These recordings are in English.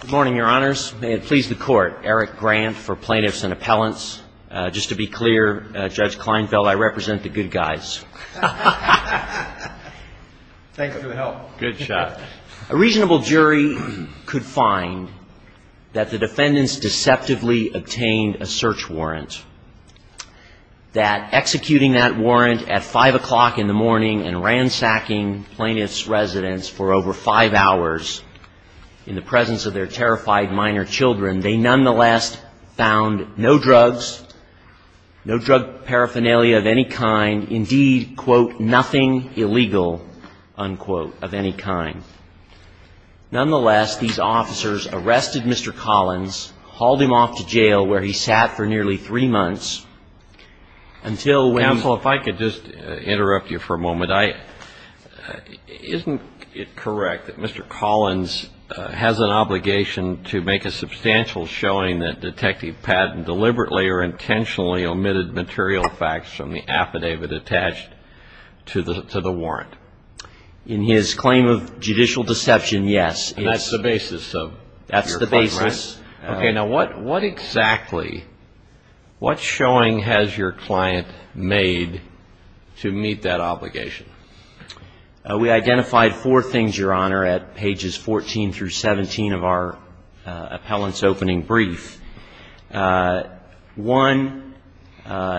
Good morning, Your Honors. May it please the Court, Eric Grant for Plaintiffs and Appellants. Just to be clear, Judge Kleinfeld, I represent the good guys. Thank you for the help. A reasonable jury could find that the defendants deceptively obtained a search warrant, that executing that warrant at 5 o'clock in the morning and ransacking plaintiffs' residence for over five hours in the presence of their terrified minor children, they nonetheless found no drugs, no drug paraphernalia of any kind, indeed, quote, nothing illegal, unquote, of any kind. Nonetheless, these officers arrested Mr. Collins, hauled him off to jail where he sat for nearly three months until when... Counsel, if I could just interrupt you for a moment. Isn't it correct that Mr. Collins has an obligation to make a substantial showing that Detective Patton deliberately or intentionally omitted material facts from the affidavit attached to the warrant? In his claim of judicial deception, yes. And that's the basis of your claim, right? Yes. Okay. Now, what exactly, what showing has your client made to meet that obligation? We identified four things, Your Honor, at pages 14 through 17 of our appellant's opening brief. One, the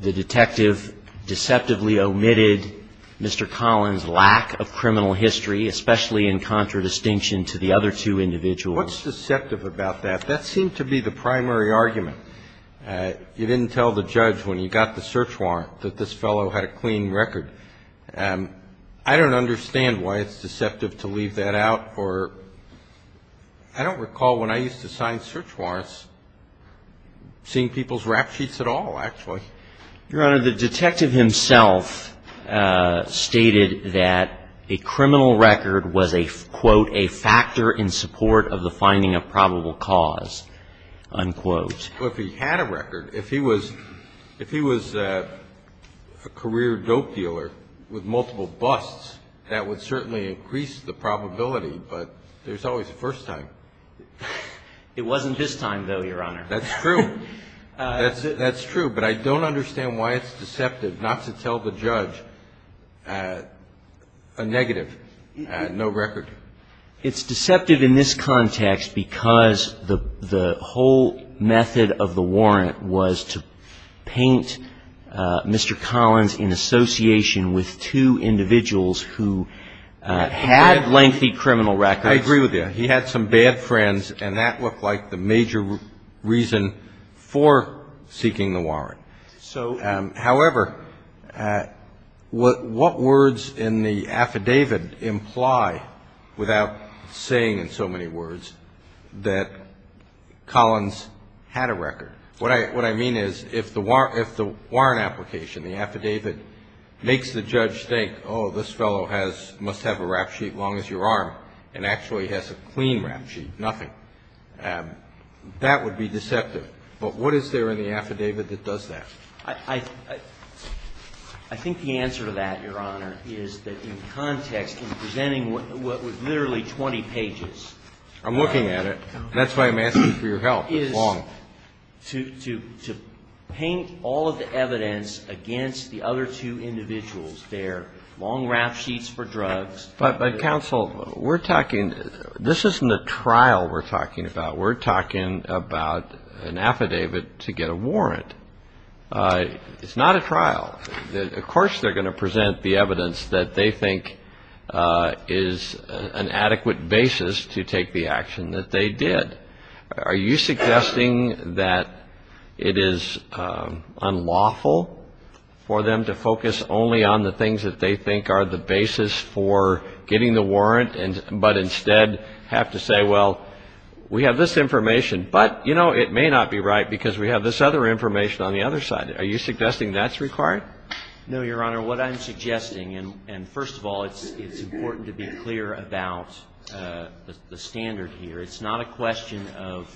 detective deceptively omitted Mr. Collins' lack of criminal history, especially in contradistinction to the other two individuals. What's deceptive about that? That seemed to be the primary argument. You didn't tell the judge when you got the search warrant that this fellow had a clean record. I don't understand why it's deceptive to leave that out, or I don't recall when I used to sign search warrants seeing people's rap sheets at all, actually. Your Honor, the detective himself stated that a criminal record was a, quote, a factor in support of the finding of probable cause, unquote. Well, if he had a record, if he was a career dope dealer with multiple busts, that would certainly increase the probability, but there's always a first time. It wasn't his time, though, Your Honor. That's true. But I don't understand why it's deceptive not to tell the judge a negative, no record. It's deceptive in this context because the whole method of the warrant was to paint Mr. Collins in association with two dead friends, and that looked like the major reason for seeking the warrant. However, what words in the affidavit imply, without saying in so many words, that Collins had a record? What I mean is if the warrant application, the affidavit, makes the judge think, oh, this fellow must have a rap sheet as long as your arm and actually has a clean rap sheet, nothing, that would be deceptive. But what is there in the affidavit that does that? I think the answer to that, Your Honor, is that in context, in presenting what was literally 20 pages. I'm looking at it. That's why I'm asking for your help. It's long. To paint all of the evidence against the other two individuals. They're long rap sheets for drugs. This isn't a trial we're talking about. We're talking about an affidavit to get a warrant. It's not a trial. Of course they're going to present the evidence that they think is an adequate basis to take the action that they did. Are you suggesting that it is unlawful for them to focus only on the things that they think are the basis for getting the warrant, but instead have to say, well, we have this information, but, you know, it may not be right because we have this other information on the other side. Are you suggesting that's required? No, Your Honor. What I'm suggesting, and first of all, it's important to be clear about the standard here. It's not a question of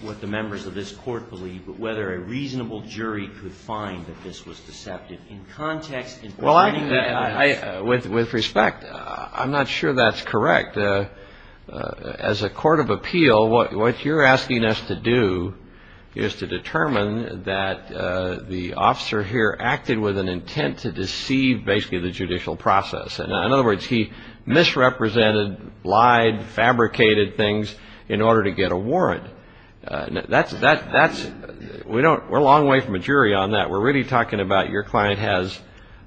what the members of this Court believe, but whether a reasonable jury could find that this was deceptive in context. With respect, I'm not sure that's correct. As a court of appeal, what you're doing is you're trying to determine that the officer here acted with an intent to deceive basically the judicial process. In other words, he misrepresented, lied, fabricated things in order to get a warrant. We're a long way from a jury on that. We're really talking about your client has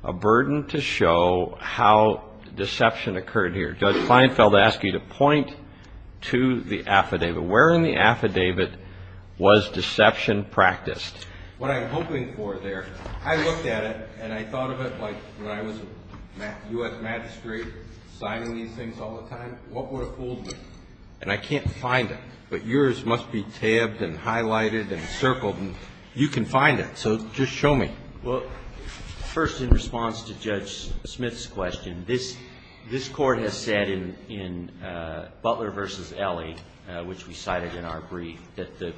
a burden to show how deception occurred here. Judge Feinfeld asked you to point to the affidavit. Where in the affidavit was deception practiced? What I'm hoping for there, I looked at it, and I thought of it like when I was U.S. magistrate, signing these things all the time. What would have fooled me? And I can't find it, but yours must be tabbed and highlighted and circled, and you can find it, so just show me. Well, first, in response to Judge Smith's question, this Court has said in Butler v. Elie, which we cited in our brief, that the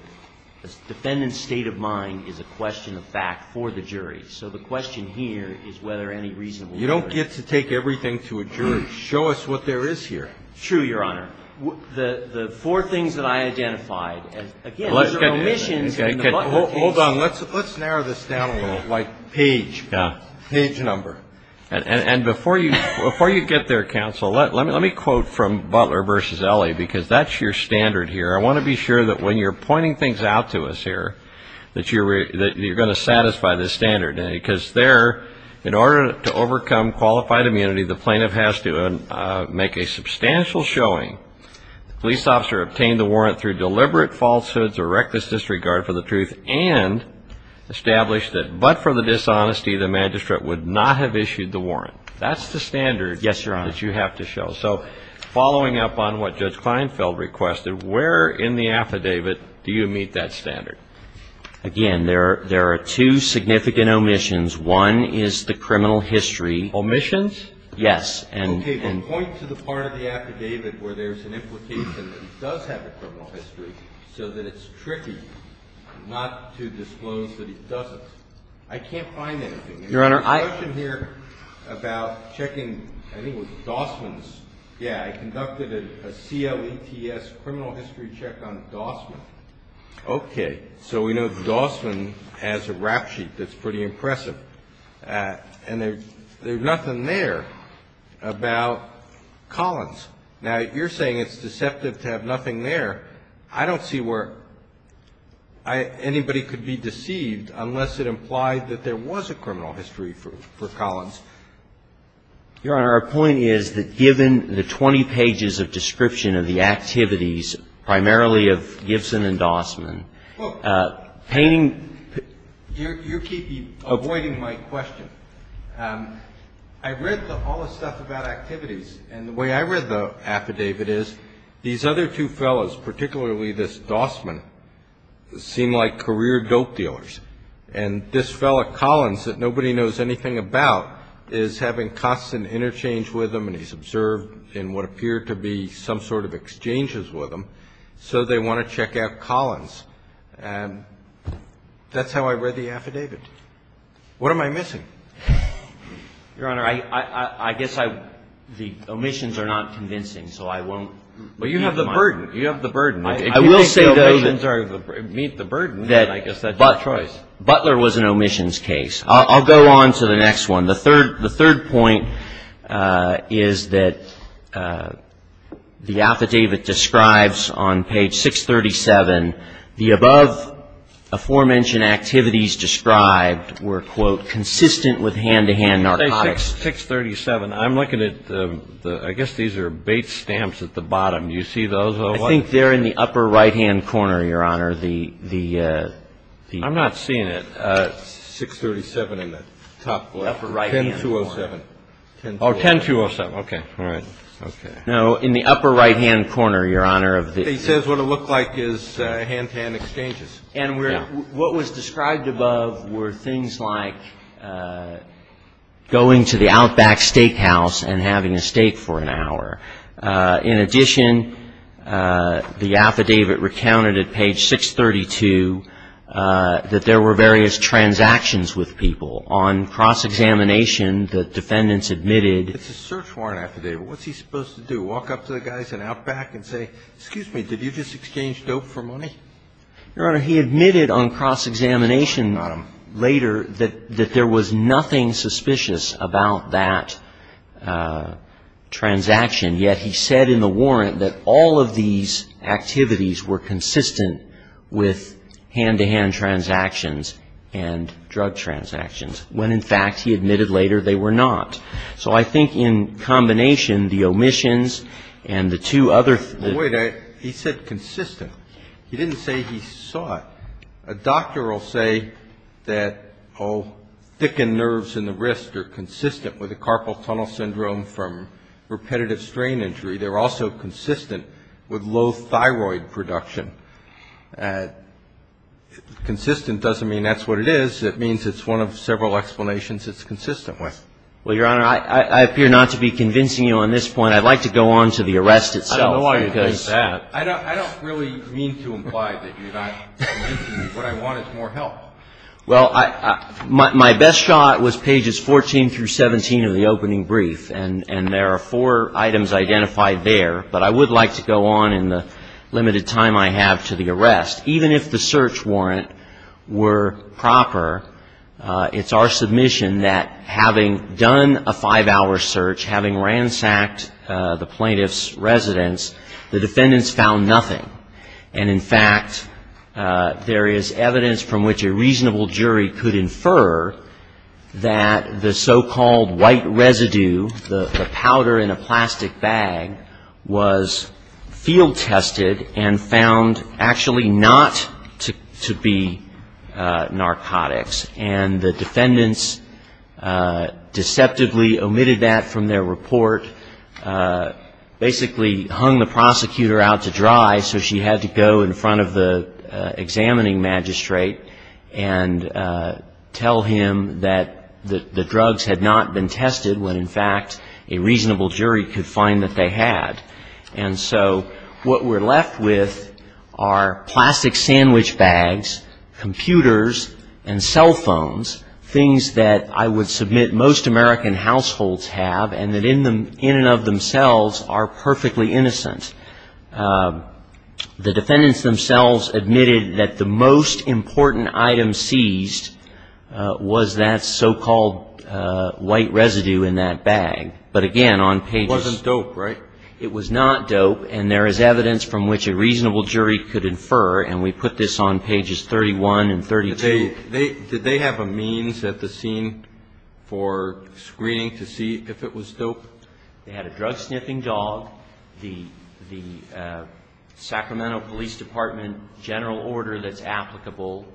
defendant's state of mind is a question of fact for the jury. So the question here is whether any reason would work. You don't get to take everything to a jury. Show us what there is here. True, Your Honor. The four things that I identified, again, these are omissions in the Butler case. Hold on. Let's narrow this down a little, like page, page number. And before you get there, counsel, let me quote from Butler v. Elie, because that's your standard here. I want to be sure that when you're pointing things out to us here, that you're going to satisfy this standard, because there, in order to overcome qualified immunity, the plaintiff has to make a substantial showing. The police officer obtained the warrant through deliberate falsehoods or reckless disregard for the truth and established that but for the dishonesty, the magistrate would not have issued the warrant. That's the standard that you have to show. Yes, Your Honor. So following up on what Judge Kleinfeld requested, where in the affidavit do you meet that standard? Again, there are two significant omissions. One is the criminal history. Omissions? Yes. Okay, but point to the part of the affidavit where there's an implication that it does have a criminal history so that it's tricky not to disclose that it doesn't. I can't find anything. Your Honor, I — There's a notion here about checking, I think it was Dossman's. Yeah, I conducted a CLETS criminal history check on Dossman. Okay, so we know that Dossman has a rap sheet that's pretty impressive. And there's nothing there about Collins. Now, you're saying it's deceptive to have nothing there. I don't see where anybody could be deceived unless it implied that there was a criminal history for Collins. Your Honor, our point is that given the 20 pages of description of the activities, primarily of Gibson and Dossman, painting — You keep avoiding my question. I read all the stuff about activities, and the way I read the affidavit is these other two fellows, particularly this Dossman, seem like career dope dealers. And this fellow Collins that nobody knows anything about is having constant interchange with him and he's observed in what appeared to be some sort of exchanges with him, so they want to check out Collins. That's how I read the affidavit. What am I missing? Your Honor, I guess I — the omissions are not convincing, so I won't — But you have the burden. You have the burden. If you think the omissions meet the burden, then I guess that's your choice. Butler was an omissions case. I'll go on to the next one. The third point is that the affidavit describes on page 637 the above-aforementioned activities described were, quote, consistent with hand-to-hand narcotics. Page 637. I'm looking at the — I guess these are bait stamps at the bottom. Do you see those? I think they're in the upper right-hand corner, Your Honor. The — I'm not seeing it. 637 in the top left. 10-207. Oh, 10-207. Okay. All right. Okay. No, in the upper right-hand corner, Your Honor, of the — He says what it looked like is hand-to-hand exchanges. Yeah. And what was described above were things like going to the Outback Steakhouse and having a steak for an hour. In addition, the affidavit recounted at page 632 that there were various transactions with people. On cross-examination, the defendants admitted — It's a search warrant affidavit. What's he supposed to do, walk up to the guys at Outback and say, excuse me, did you just exchange dope for money? Your Honor, he admitted on cross-examination later that there was nothing suspicious about that transaction. Yet he said in the warrant that all of these activities were consistent with hand-to-hand transactions and drug transactions, when, in fact, he admitted later they were not. So I think in combination, the omissions and the two other — Wait. He said consistent. He didn't say he saw it. A doctor will say that thickened nerves in the wrist are consistent with the carpal tunnel syndrome from repetitive strain injury. They're also consistent with low thyroid production. Consistent doesn't mean that's what it is. It means it's one of several explanations it's consistent with. Well, Your Honor, I appear not to be convincing you on this point. I'd like to go on to the arrest itself. I don't know why you think that. I don't really mean to imply that you're not convincing me. What I want is more help. Well, my best shot was pages 14 through 17 of the opening brief, and there are four items identified there. But I would like to go on in the limited time I have to the arrest. Even if the search warrant were proper, it's our submission that having done a five-hour search, having ransacked the plaintiff's residence, the defendants found nothing. And, in fact, there is evidence from which a reasonable jury could infer that the so-called white residue, the powder in a plastic bag, was field tested and found actually not to be narcotics. And the defendants deceptively omitted that from their report, basically hung the prosecutor out to dry, so she had to go in front of the examining magistrate and tell him that the drugs had not been tested, when, in fact, a reasonable jury could find that they had. And so what we're left with are plastic sandwich bags, computers, and cell phones, things that I would submit most American households have and that in and of themselves are perfectly innocent. The defendants themselves admitted that the most important item seized was that so-called white residue in that bag. But, again, on pages- It wasn't dope, right? It was not dope. And there is evidence from which a reasonable jury could infer. And we put this on pages 31 and 32. Did they have a means at the scene for screening to see if it was dope? They had a drug-sniffing dog. The Sacramento Police Department general order that's applicable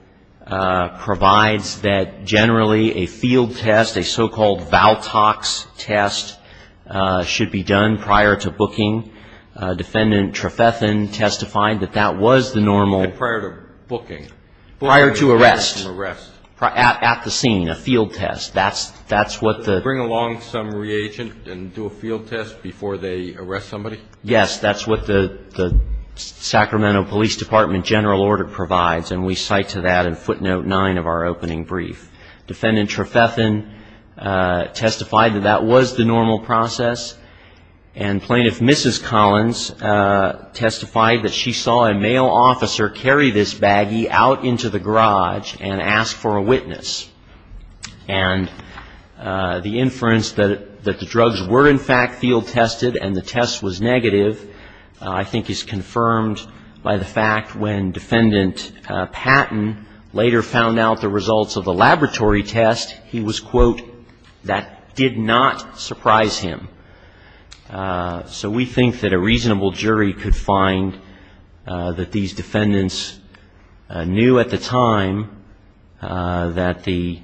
provides that generally a field test, a so-called Valtox test, should be done prior to booking. Defendant Trefethen testified that that was the normal- Prior to booking. Prior to arrest. Prior to arrest. At the scene, a field test. That's what the- Bring along some reagent and do a field test before they arrest somebody? Yes, that's what the Sacramento Police Department general order provides, and we cite to that in footnote 9 of our opening brief. Defendant Trefethen testified that that was the normal process, and Plaintiff Mrs. Collins testified that she saw a male officer carry this baggie out into the garage and ask for a witness. And the inference that the drugs were, in fact, field tested and the test was negative, I think is confirmed by the fact when Defendant Patton later found out the results of the laboratory test, he was, quote, that did not surprise him. So we think that a reasonable jury could find that these defendants knew at the time that the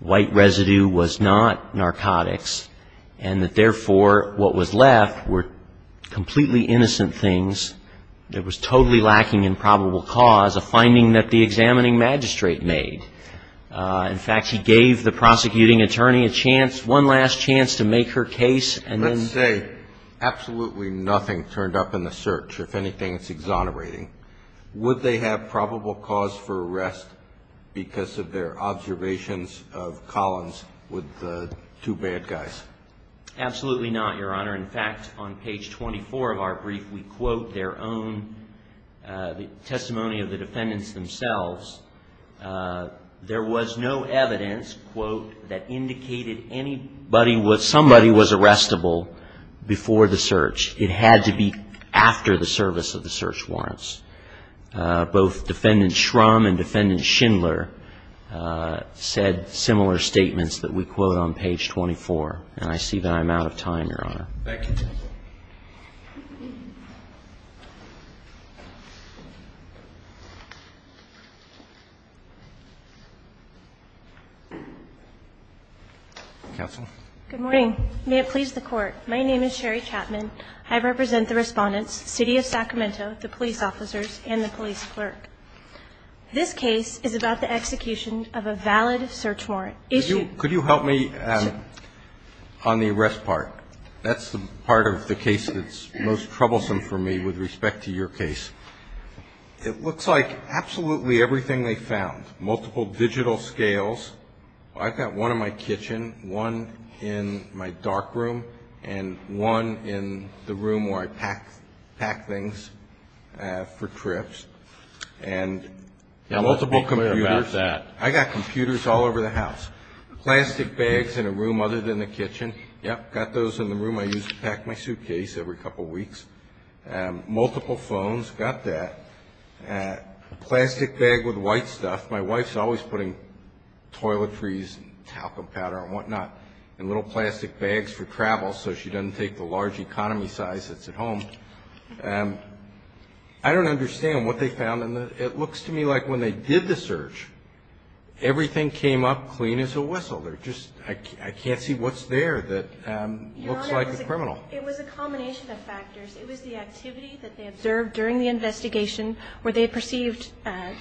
white residue was not that was totally lacking in probable cause, a finding that the examining magistrate made. In fact, she gave the prosecuting attorney a chance, one last chance to make her case and then- Let's say absolutely nothing turned up in the search. If anything, it's exonerating. Would they have probable cause for arrest because of their observations of Collins with the two bad guys? Absolutely not, Your Honor. In fact, on page 24 of our brief, we quote their own testimony of the defendants themselves. There was no evidence, quote, that indicated somebody was arrestable before the search. It had to be after the service of the search warrants. Both Defendant Shrum and Defendant Schindler said similar statements that we quote on page 24. And I see that I'm out of time, Your Honor. Thank you. Counsel. Good morning. May it please the Court, my name is Sherry Chapman. I represent the Respondents, City of Sacramento, the police officers, and the police clerk. This case is about the execution of a valid search warrant. Could you help me on the arrest part? That's the part of the case that's most troublesome for me with respect to your case. It looks like absolutely everything they found, multiple digital scales. I've got one in my kitchen, one in my dark room, and one in the room where I pack things for trips. And multiple computers. Let's be clear about that. I got computers all over the house. Plastic bags in a room other than the kitchen. Yep, got those in the room I use to pack my suitcase every couple weeks. Multiple phones, got that. Plastic bag with white stuff. My wife's always putting toiletries and talcum powder and whatnot in little plastic bags for travel so she doesn't take the large economy size that's at home. I don't understand what they found. It looks to me like when they did the search, everything came up clean as a whistle. I can't see what's there that looks like the criminal. Your Honor, it was a combination of factors. It was the activity that they observed during the investigation where they perceived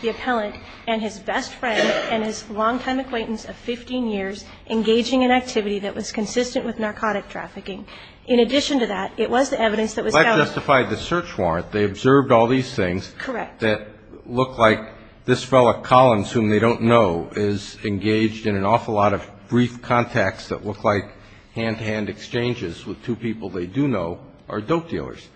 the appellant and his best friend and his longtime acquaintance of 15 years engaging in activity that was consistent with narcotic trafficking. In addition to that, it was the evidence that was found. Black justified the search warrant. They observed all these things. Correct. That look like this fellow Collins, whom they don't know, is engaged in an awful lot of brief contacts that look like hand-to-hand exchanges with two people they do know are dope dealers.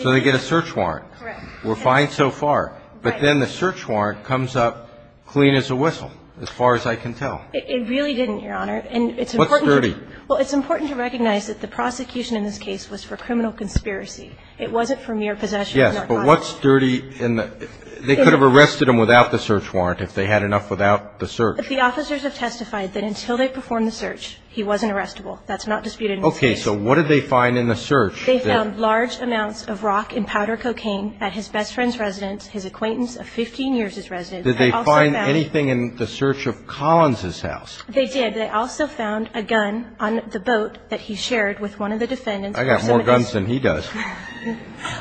So they get a search warrant. Correct. We're fine so far. Right. But then the search warrant comes up clean as a whistle, as far as I can tell. It really didn't, Your Honor. What's dirty? Well, it's important to recognize that the prosecution in this case was for criminal conspiracy. It wasn't for mere possession of narcotics. What's dirty? They could have arrested him without the search warrant if they had enough without the search. The officers have testified that until they performed the search, he wasn't arrestable. That's not disputed in this case. Okay. So what did they find in the search? They found large amounts of rock and powder cocaine at his best friend's residence, his acquaintance of 15 years' residence. Did they find anything in the search of Collins' house? They did. They also found a gun on the boat that he shared with one of the defendants. I got more guns than he does.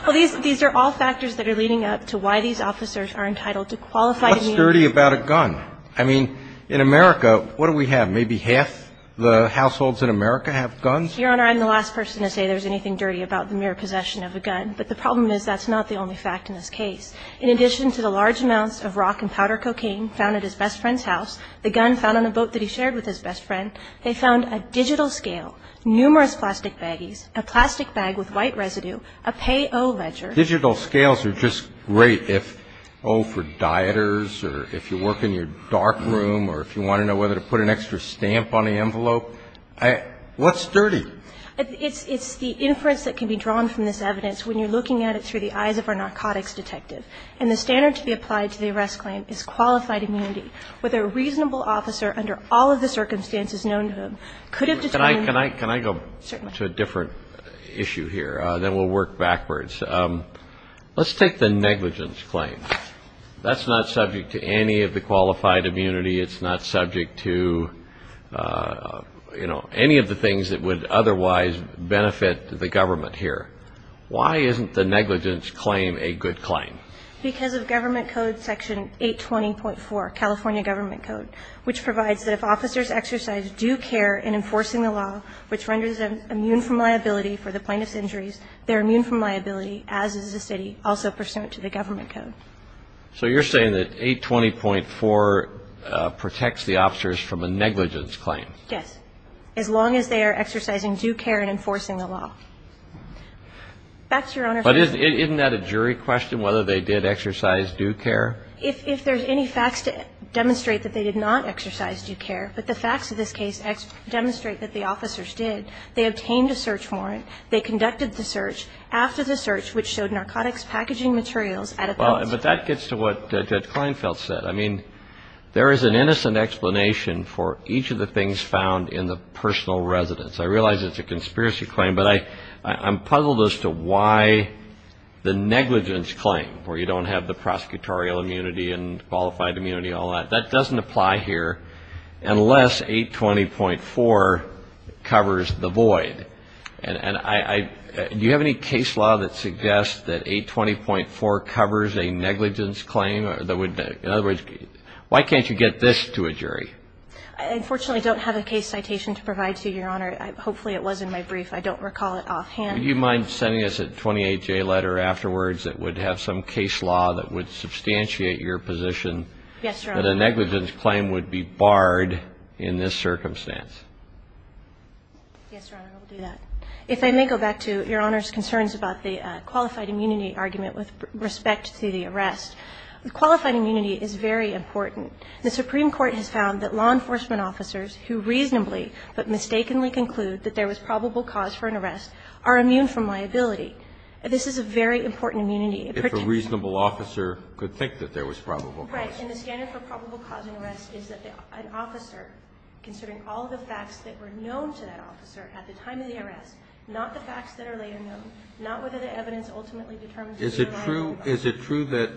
Well, these are all factors that are leading up to why these officers are entitled to qualified immunity. What's dirty about a gun? I mean, in America, what do we have? Maybe half the households in America have guns? Your Honor, I'm the last person to say there's anything dirty about the mere possession of a gun. But the problem is that's not the only fact in this case. In addition to the large amounts of rock and powder cocaine found at his best friend's house, the gun found on the boat that he shared with his best friend, they found a digital scale, numerous plastic baggies, a plastic bag with white residue, a pay-o-ledger. Digital scales are just great if, oh, for dieters or if you work in your dark room or if you want to know whether to put an extra stamp on the envelope. What's dirty? It's the inference that can be drawn from this evidence when you're looking at it through the eyes of our narcotics detective. And the standard to be applied to the arrest claim is qualified immunity. Whether a reasonable officer under all of the circumstances known to him could have a gun. Can I go to a different issue here? Then we'll work backwards. Let's take the negligence claim. That's not subject to any of the qualified immunity. It's not subject to, you know, any of the things that would otherwise benefit the government here. Why isn't the negligence claim a good claim? Because of Government Code Section 820.4, California Government Code, which provides that if officers exercise due care in enforcing the law, which renders them immune from liability for the plaintiff's injuries, they're immune from liability, as is the City, also pursuant to the Government Code. So you're saying that 820.4 protects the officers from a negligence claim? Yes. As long as they are exercising due care in enforcing the law. Back to your Honor. But isn't that a jury question, whether they did exercise due care? If there's any facts to demonstrate that they did not exercise due care, but the facts of this case demonstrate that the officers did, they obtained a search warrant, they conducted the search, after the search, which showed narcotics packaging materials at a police station. But that gets to what Judge Kleinfeld said. I mean, there is an innocent explanation for each of the things found in the personal residence. I realize it's a conspiracy claim, but I'm puzzled as to why the negligence claim, where you don't have the prosecutorial immunity and qualified immunity, all that. That doesn't apply here unless 820.4 covers the void. And do you have any case law that suggests that 820.4 covers a negligence claim? In other words, why can't you get this to a jury? I unfortunately don't have a case citation to provide to you, Your Honor. Hopefully it was in my brief. I don't recall it offhand. Would you mind sending us a 28-J letter afterwards that would have some case law that would substantiate your position that a negligence claim would be barred in this circumstance? Yes, Your Honor, I will do that. If I may go back to Your Honor's concerns about the qualified immunity argument with respect to the arrest. Qualified immunity is very important. The Supreme Court has found that law enforcement officers who reasonably but mistakenly conclude that there was probable cause for an arrest are immune from liability. This is a very important immunity. If a reasonable officer could think that there was probable cause. Right. And the standard for probable cause in an arrest is that an officer, considering all the facts that were known to that officer at the time of the arrest, not the facts that are later known, not whether the evidence ultimately determines that they are liable. Is it true that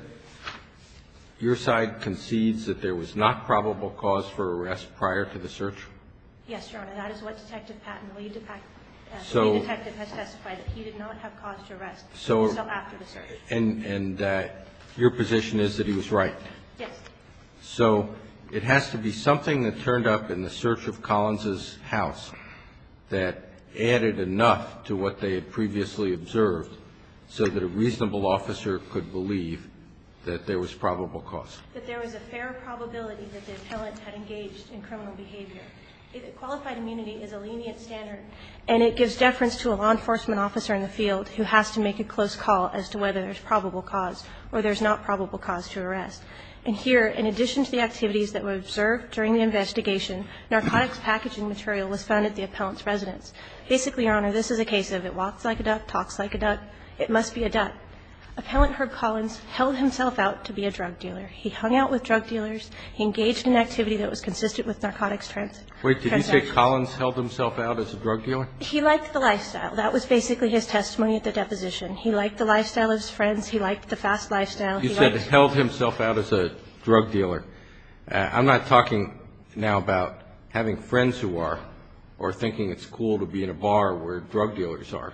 your side concedes that there was not probable cause for arrest prior to the search? Yes, Your Honor. That is what Detective Patton, the lead detective, has testified, that he did not have cause to arrest until after the search. And your position is that he was right? Yes. So it has to be something that turned up in the search of Collins' house that added enough to what they had previously observed so that a reasonable officer could believe that there was probable cause. That there was a fair probability that the appellant had engaged in criminal behavior. Qualified immunity is a lenient standard, and it gives deference to a law enforcement officer in the field who has to make a close call as to whether there's probable cause or there's not probable cause to arrest. And here, in addition to the activities that were observed during the investigation, narcotics packaging material was found at the appellant's residence. Basically, Your Honor, this is a case of it walks like a duck, talks like a duck, it must be a duck. Appellant Herb Collins held himself out to be a drug dealer. He hung out with drug dealers. He engaged in activity that was consistent with narcotics transactions. Wait, did he say Collins held himself out as a drug dealer? He liked the lifestyle. That was basically his testimony at the deposition. He liked the lifestyle of his friends. He liked the fast lifestyle. You said held himself out as a drug dealer. I'm not talking now about having friends who are or thinking it's cool to be in a bar where drug dealers are.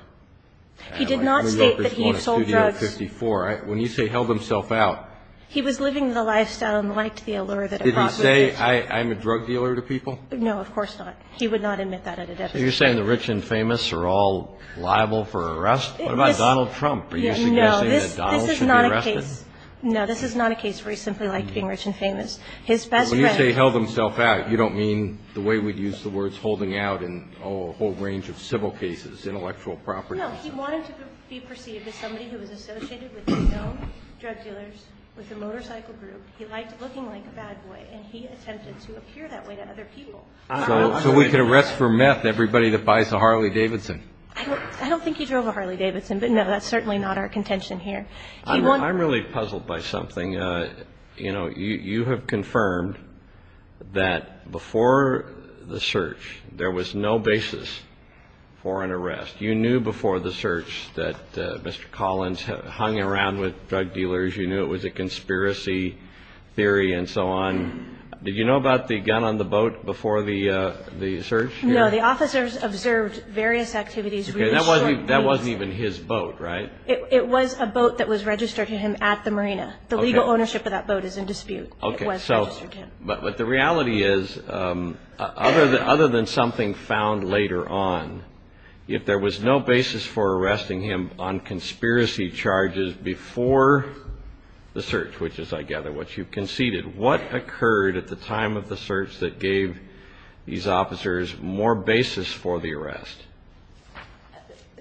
He did not state that he sold drugs. When you say held himself out. He was living the lifestyle and liked the allure that it brought with it. Did he say I'm a drug dealer to people? No, of course not. He would not admit that at a deposition. So you're saying the rich and famous are all liable for arrest? What about Donald Trump? Are you suggesting that Donald should be arrested? No, this is not a case. No, this is not a case where he simply liked being rich and famous. His best friend. When you say held himself out, you don't mean the way we'd use the words holding out in a whole range of civil cases, intellectual properties? No, he wanted to be perceived as somebody who was associated with no drug dealers, with a motorcycle group. He liked looking like a bad boy, and he attempted to appear that way to other people. So we could arrest for meth everybody that buys a Harley Davidson. I don't think he drove a Harley Davidson, but no, that's certainly not our contention here. I'm really puzzled by something. You know, you have confirmed that before the search, there was no basis for an arrest. You knew before the search that Mr. Collins hung around with drug dealers. You knew it was a conspiracy theory and so on. Did you know about the gun on the boat before the search? No, the officers observed various activities. That wasn't even his boat, right? It was a boat that was registered to him at the marina. The legal ownership of that boat is in dispute. But the reality is, other than something found later on, if there was no basis for arresting him on conspiracy charges before the search, which is, I gather, what you conceded, what occurred at the time of the search that gave these officers more basis for the arrest?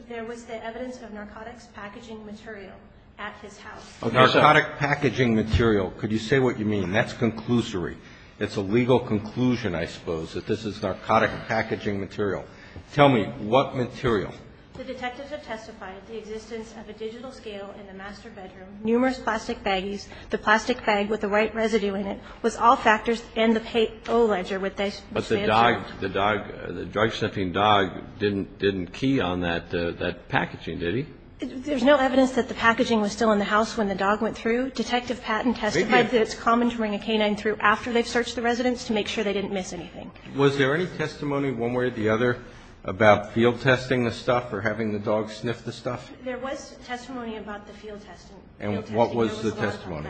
There was the evidence of narcotics packaging material at his house. Narcotic packaging material. Could you say what you mean? That's conclusory. It's a legal conclusion, I suppose, that this is narcotic packaging material. Tell me, what material? The detectives have testified the existence of a digital scale in the master bedroom, numerous plastic baggies, the plastic bag with the white residue in it, was all factors in the pay-o-ledger. But the dog, the dog, the drug-sniffing dog didn't key on that packaging, did he? There's no evidence that the packaging was still in the house when the dog went through. Detective Patton testified that it's common to bring a canine through after they've searched the residence to make sure they didn't miss anything. Was there any testimony one way or the other about field testing the stuff or having the dog sniff the stuff? There was testimony about the field testing. And what was the testimony?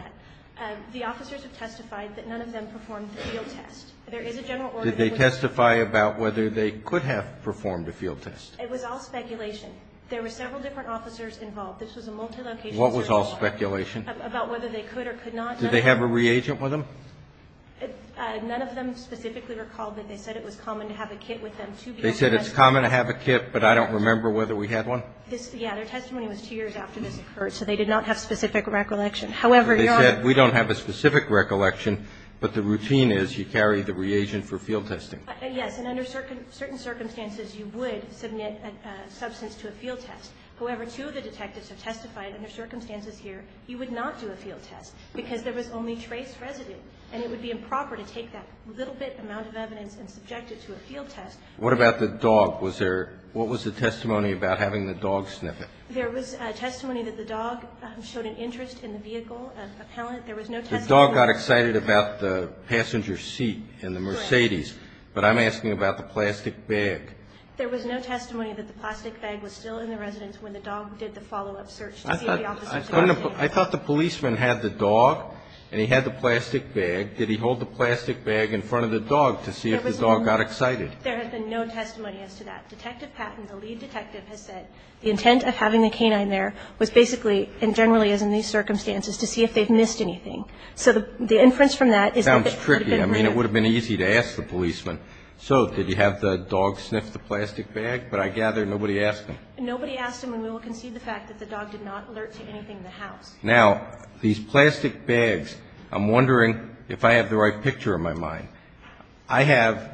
The officers have testified that none of them performed the field test. There is a general order that they would not perform the field test. Did they testify about whether they could have performed a field test? It was all speculation. There were several different officers involved. This was a multi-location search. What was all speculation? About whether they could or could not. Did they have a reagent with them? None of them specifically recalled that they said it was common to have a kit with them. They said it's common to have a kit, but I don't remember whether we had one? Yeah. Their testimony was two years after this occurred, so they did not have specific recollection. However, your Honor. They said we don't have a specific recollection, but the routine is you carry the reagent for field testing. Yes. And under certain circumstances, you would submit a substance to a field test. However, two of the detectives have testified under circumstances here you would not do a field test because there was only trace residue, and it would be improper to take that little bit amount of evidence and subject it to a field test. What about the dog? Was there – what was the testimony about having the dog sniff it? There was testimony that the dog showed an interest in the vehicle, a pallet. There was no testimony. The dog got excited about the passenger seat in the Mercedes. But I'm asking about the plastic bag. There was no testimony that the plastic bag was still in the residence when the dog did the follow-up search to see if the officer was going to take it. I thought the policeman had the dog, and he had the plastic bag. Did he hold the plastic bag in front of the dog to see if the dog got excited? There has been no testimony as to that. Detective Patton, the lead detective, has said the intent of having the canine there was basically and generally is in these circumstances to see if they've missed anything. So the inference from that is that it could have been – So did you have the dog sniff the plastic bag? But I gather nobody asked him. Nobody asked him, and we will concede the fact that the dog did not alert to anything in the house. Now, these plastic bags, I'm wondering if I have the right picture in my mind. I have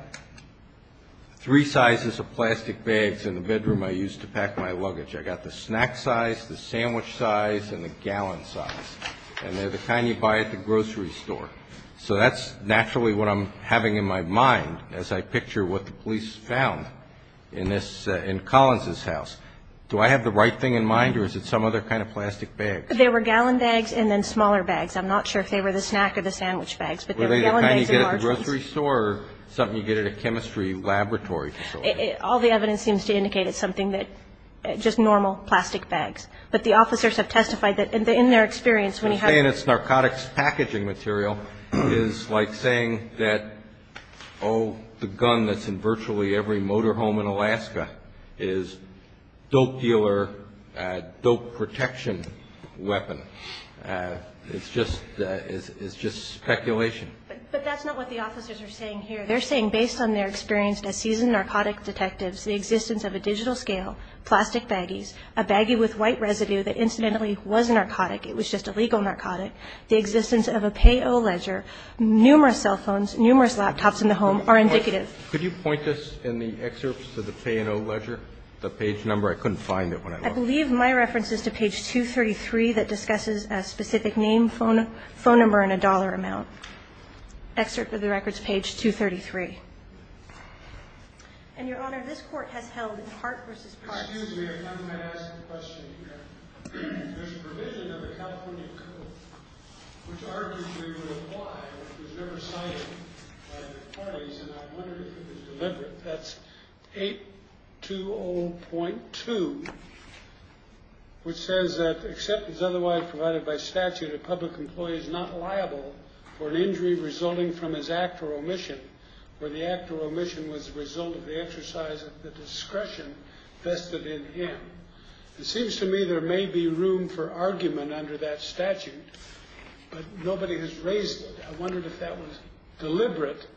three sizes of plastic bags in the bedroom I use to pack my luggage. I've got the snack size, the sandwich size, and the gallon size. And they're the kind you buy at the grocery store. So that's naturally what I'm having in my mind as I picture what the police found in Collins' house. Do I have the right thing in mind, or is it some other kind of plastic bag? They were gallon bags and then smaller bags. I'm not sure if they were the snack or the sandwich bags. Were they the kind you get at the grocery store or something you get at a chemistry laboratory facility? All the evidence seems to indicate it's something that – just normal plastic bags. But the officers have testified that, in their experience, when you have – saying it's narcotics packaging material is like saying that, oh, the gun that's in virtually every motor home in Alaska is dope dealer, dope protection weapon. It's just speculation. But that's not what the officers are saying here. They're saying, based on their experience as seasoned narcotic detectives, the existence of a digital scale, plastic baggies, a baggie with white residue that incidentally was a narcotic. It was just a legal narcotic. The existence of a pay-o-ledger, numerous cell phones, numerous laptops in the home are indicative. Could you point this in the excerpts to the pay-o-ledger, the page number? I couldn't find it when I looked. I believe my reference is to page 233 that discusses a specific name, phone number, and a dollar amount. Excerpt of the records, page 233. And, Your Honor, this Court has held part versus part. Excuse me. I'm going to ask a question here. There's a provision of the California Code, which arguably would apply, but it was never cited by the parties, and I wonder if it was deliberate. That's 820.2, which says that, except as otherwise provided by statute, a public employee is not liable for an injury resulting from his act or omission, where the act or omission was the result of the exercise of the discretion vested in him. It seems to me there may be room for argument under that statute, but nobody has raised it. I wondered if that was deliberate,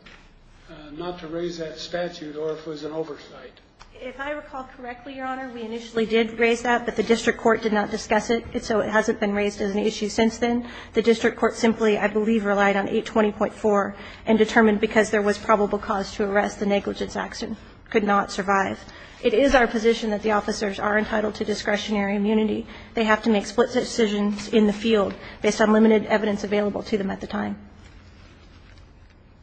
not to raise that statute, or if it was an oversight. If I recall correctly, Your Honor, we initially did raise that, but the district court did not discuss it, so it hasn't been raised as an issue since then. The district court simply, I believe, relied on 820.4 and determined, because there was probable cause to arrest, the negligence action could not survive. It is our position that the officers are entitled to discretionary immunity. They have to make split decisions in the field based on limited evidence available to them at the time.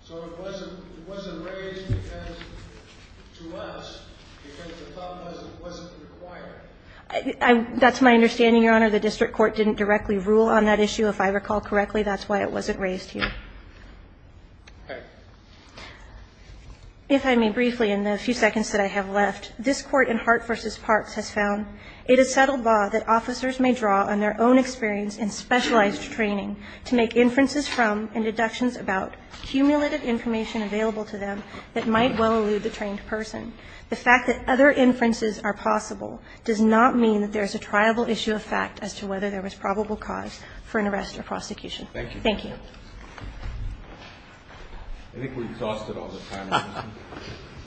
So it wasn't raised to us because the thought was it wasn't required. That's my understanding, Your Honor. The district court didn't directly rule on that issue, if I recall correctly. That's why it wasn't raised here. If I may briefly, in the few seconds that I have left, this Court in Hart v. Parks has found it is settled law that officers may draw on their own experience in specialized training to make inferences from and deductions about cumulative information available to them that might well elude the trained person. The fact that other inferences are possible does not mean that there is a triable issue of fact as to whether there was probable cause for an arrest or prosecution. Thank you. Thank you. I think we exhausted all the time.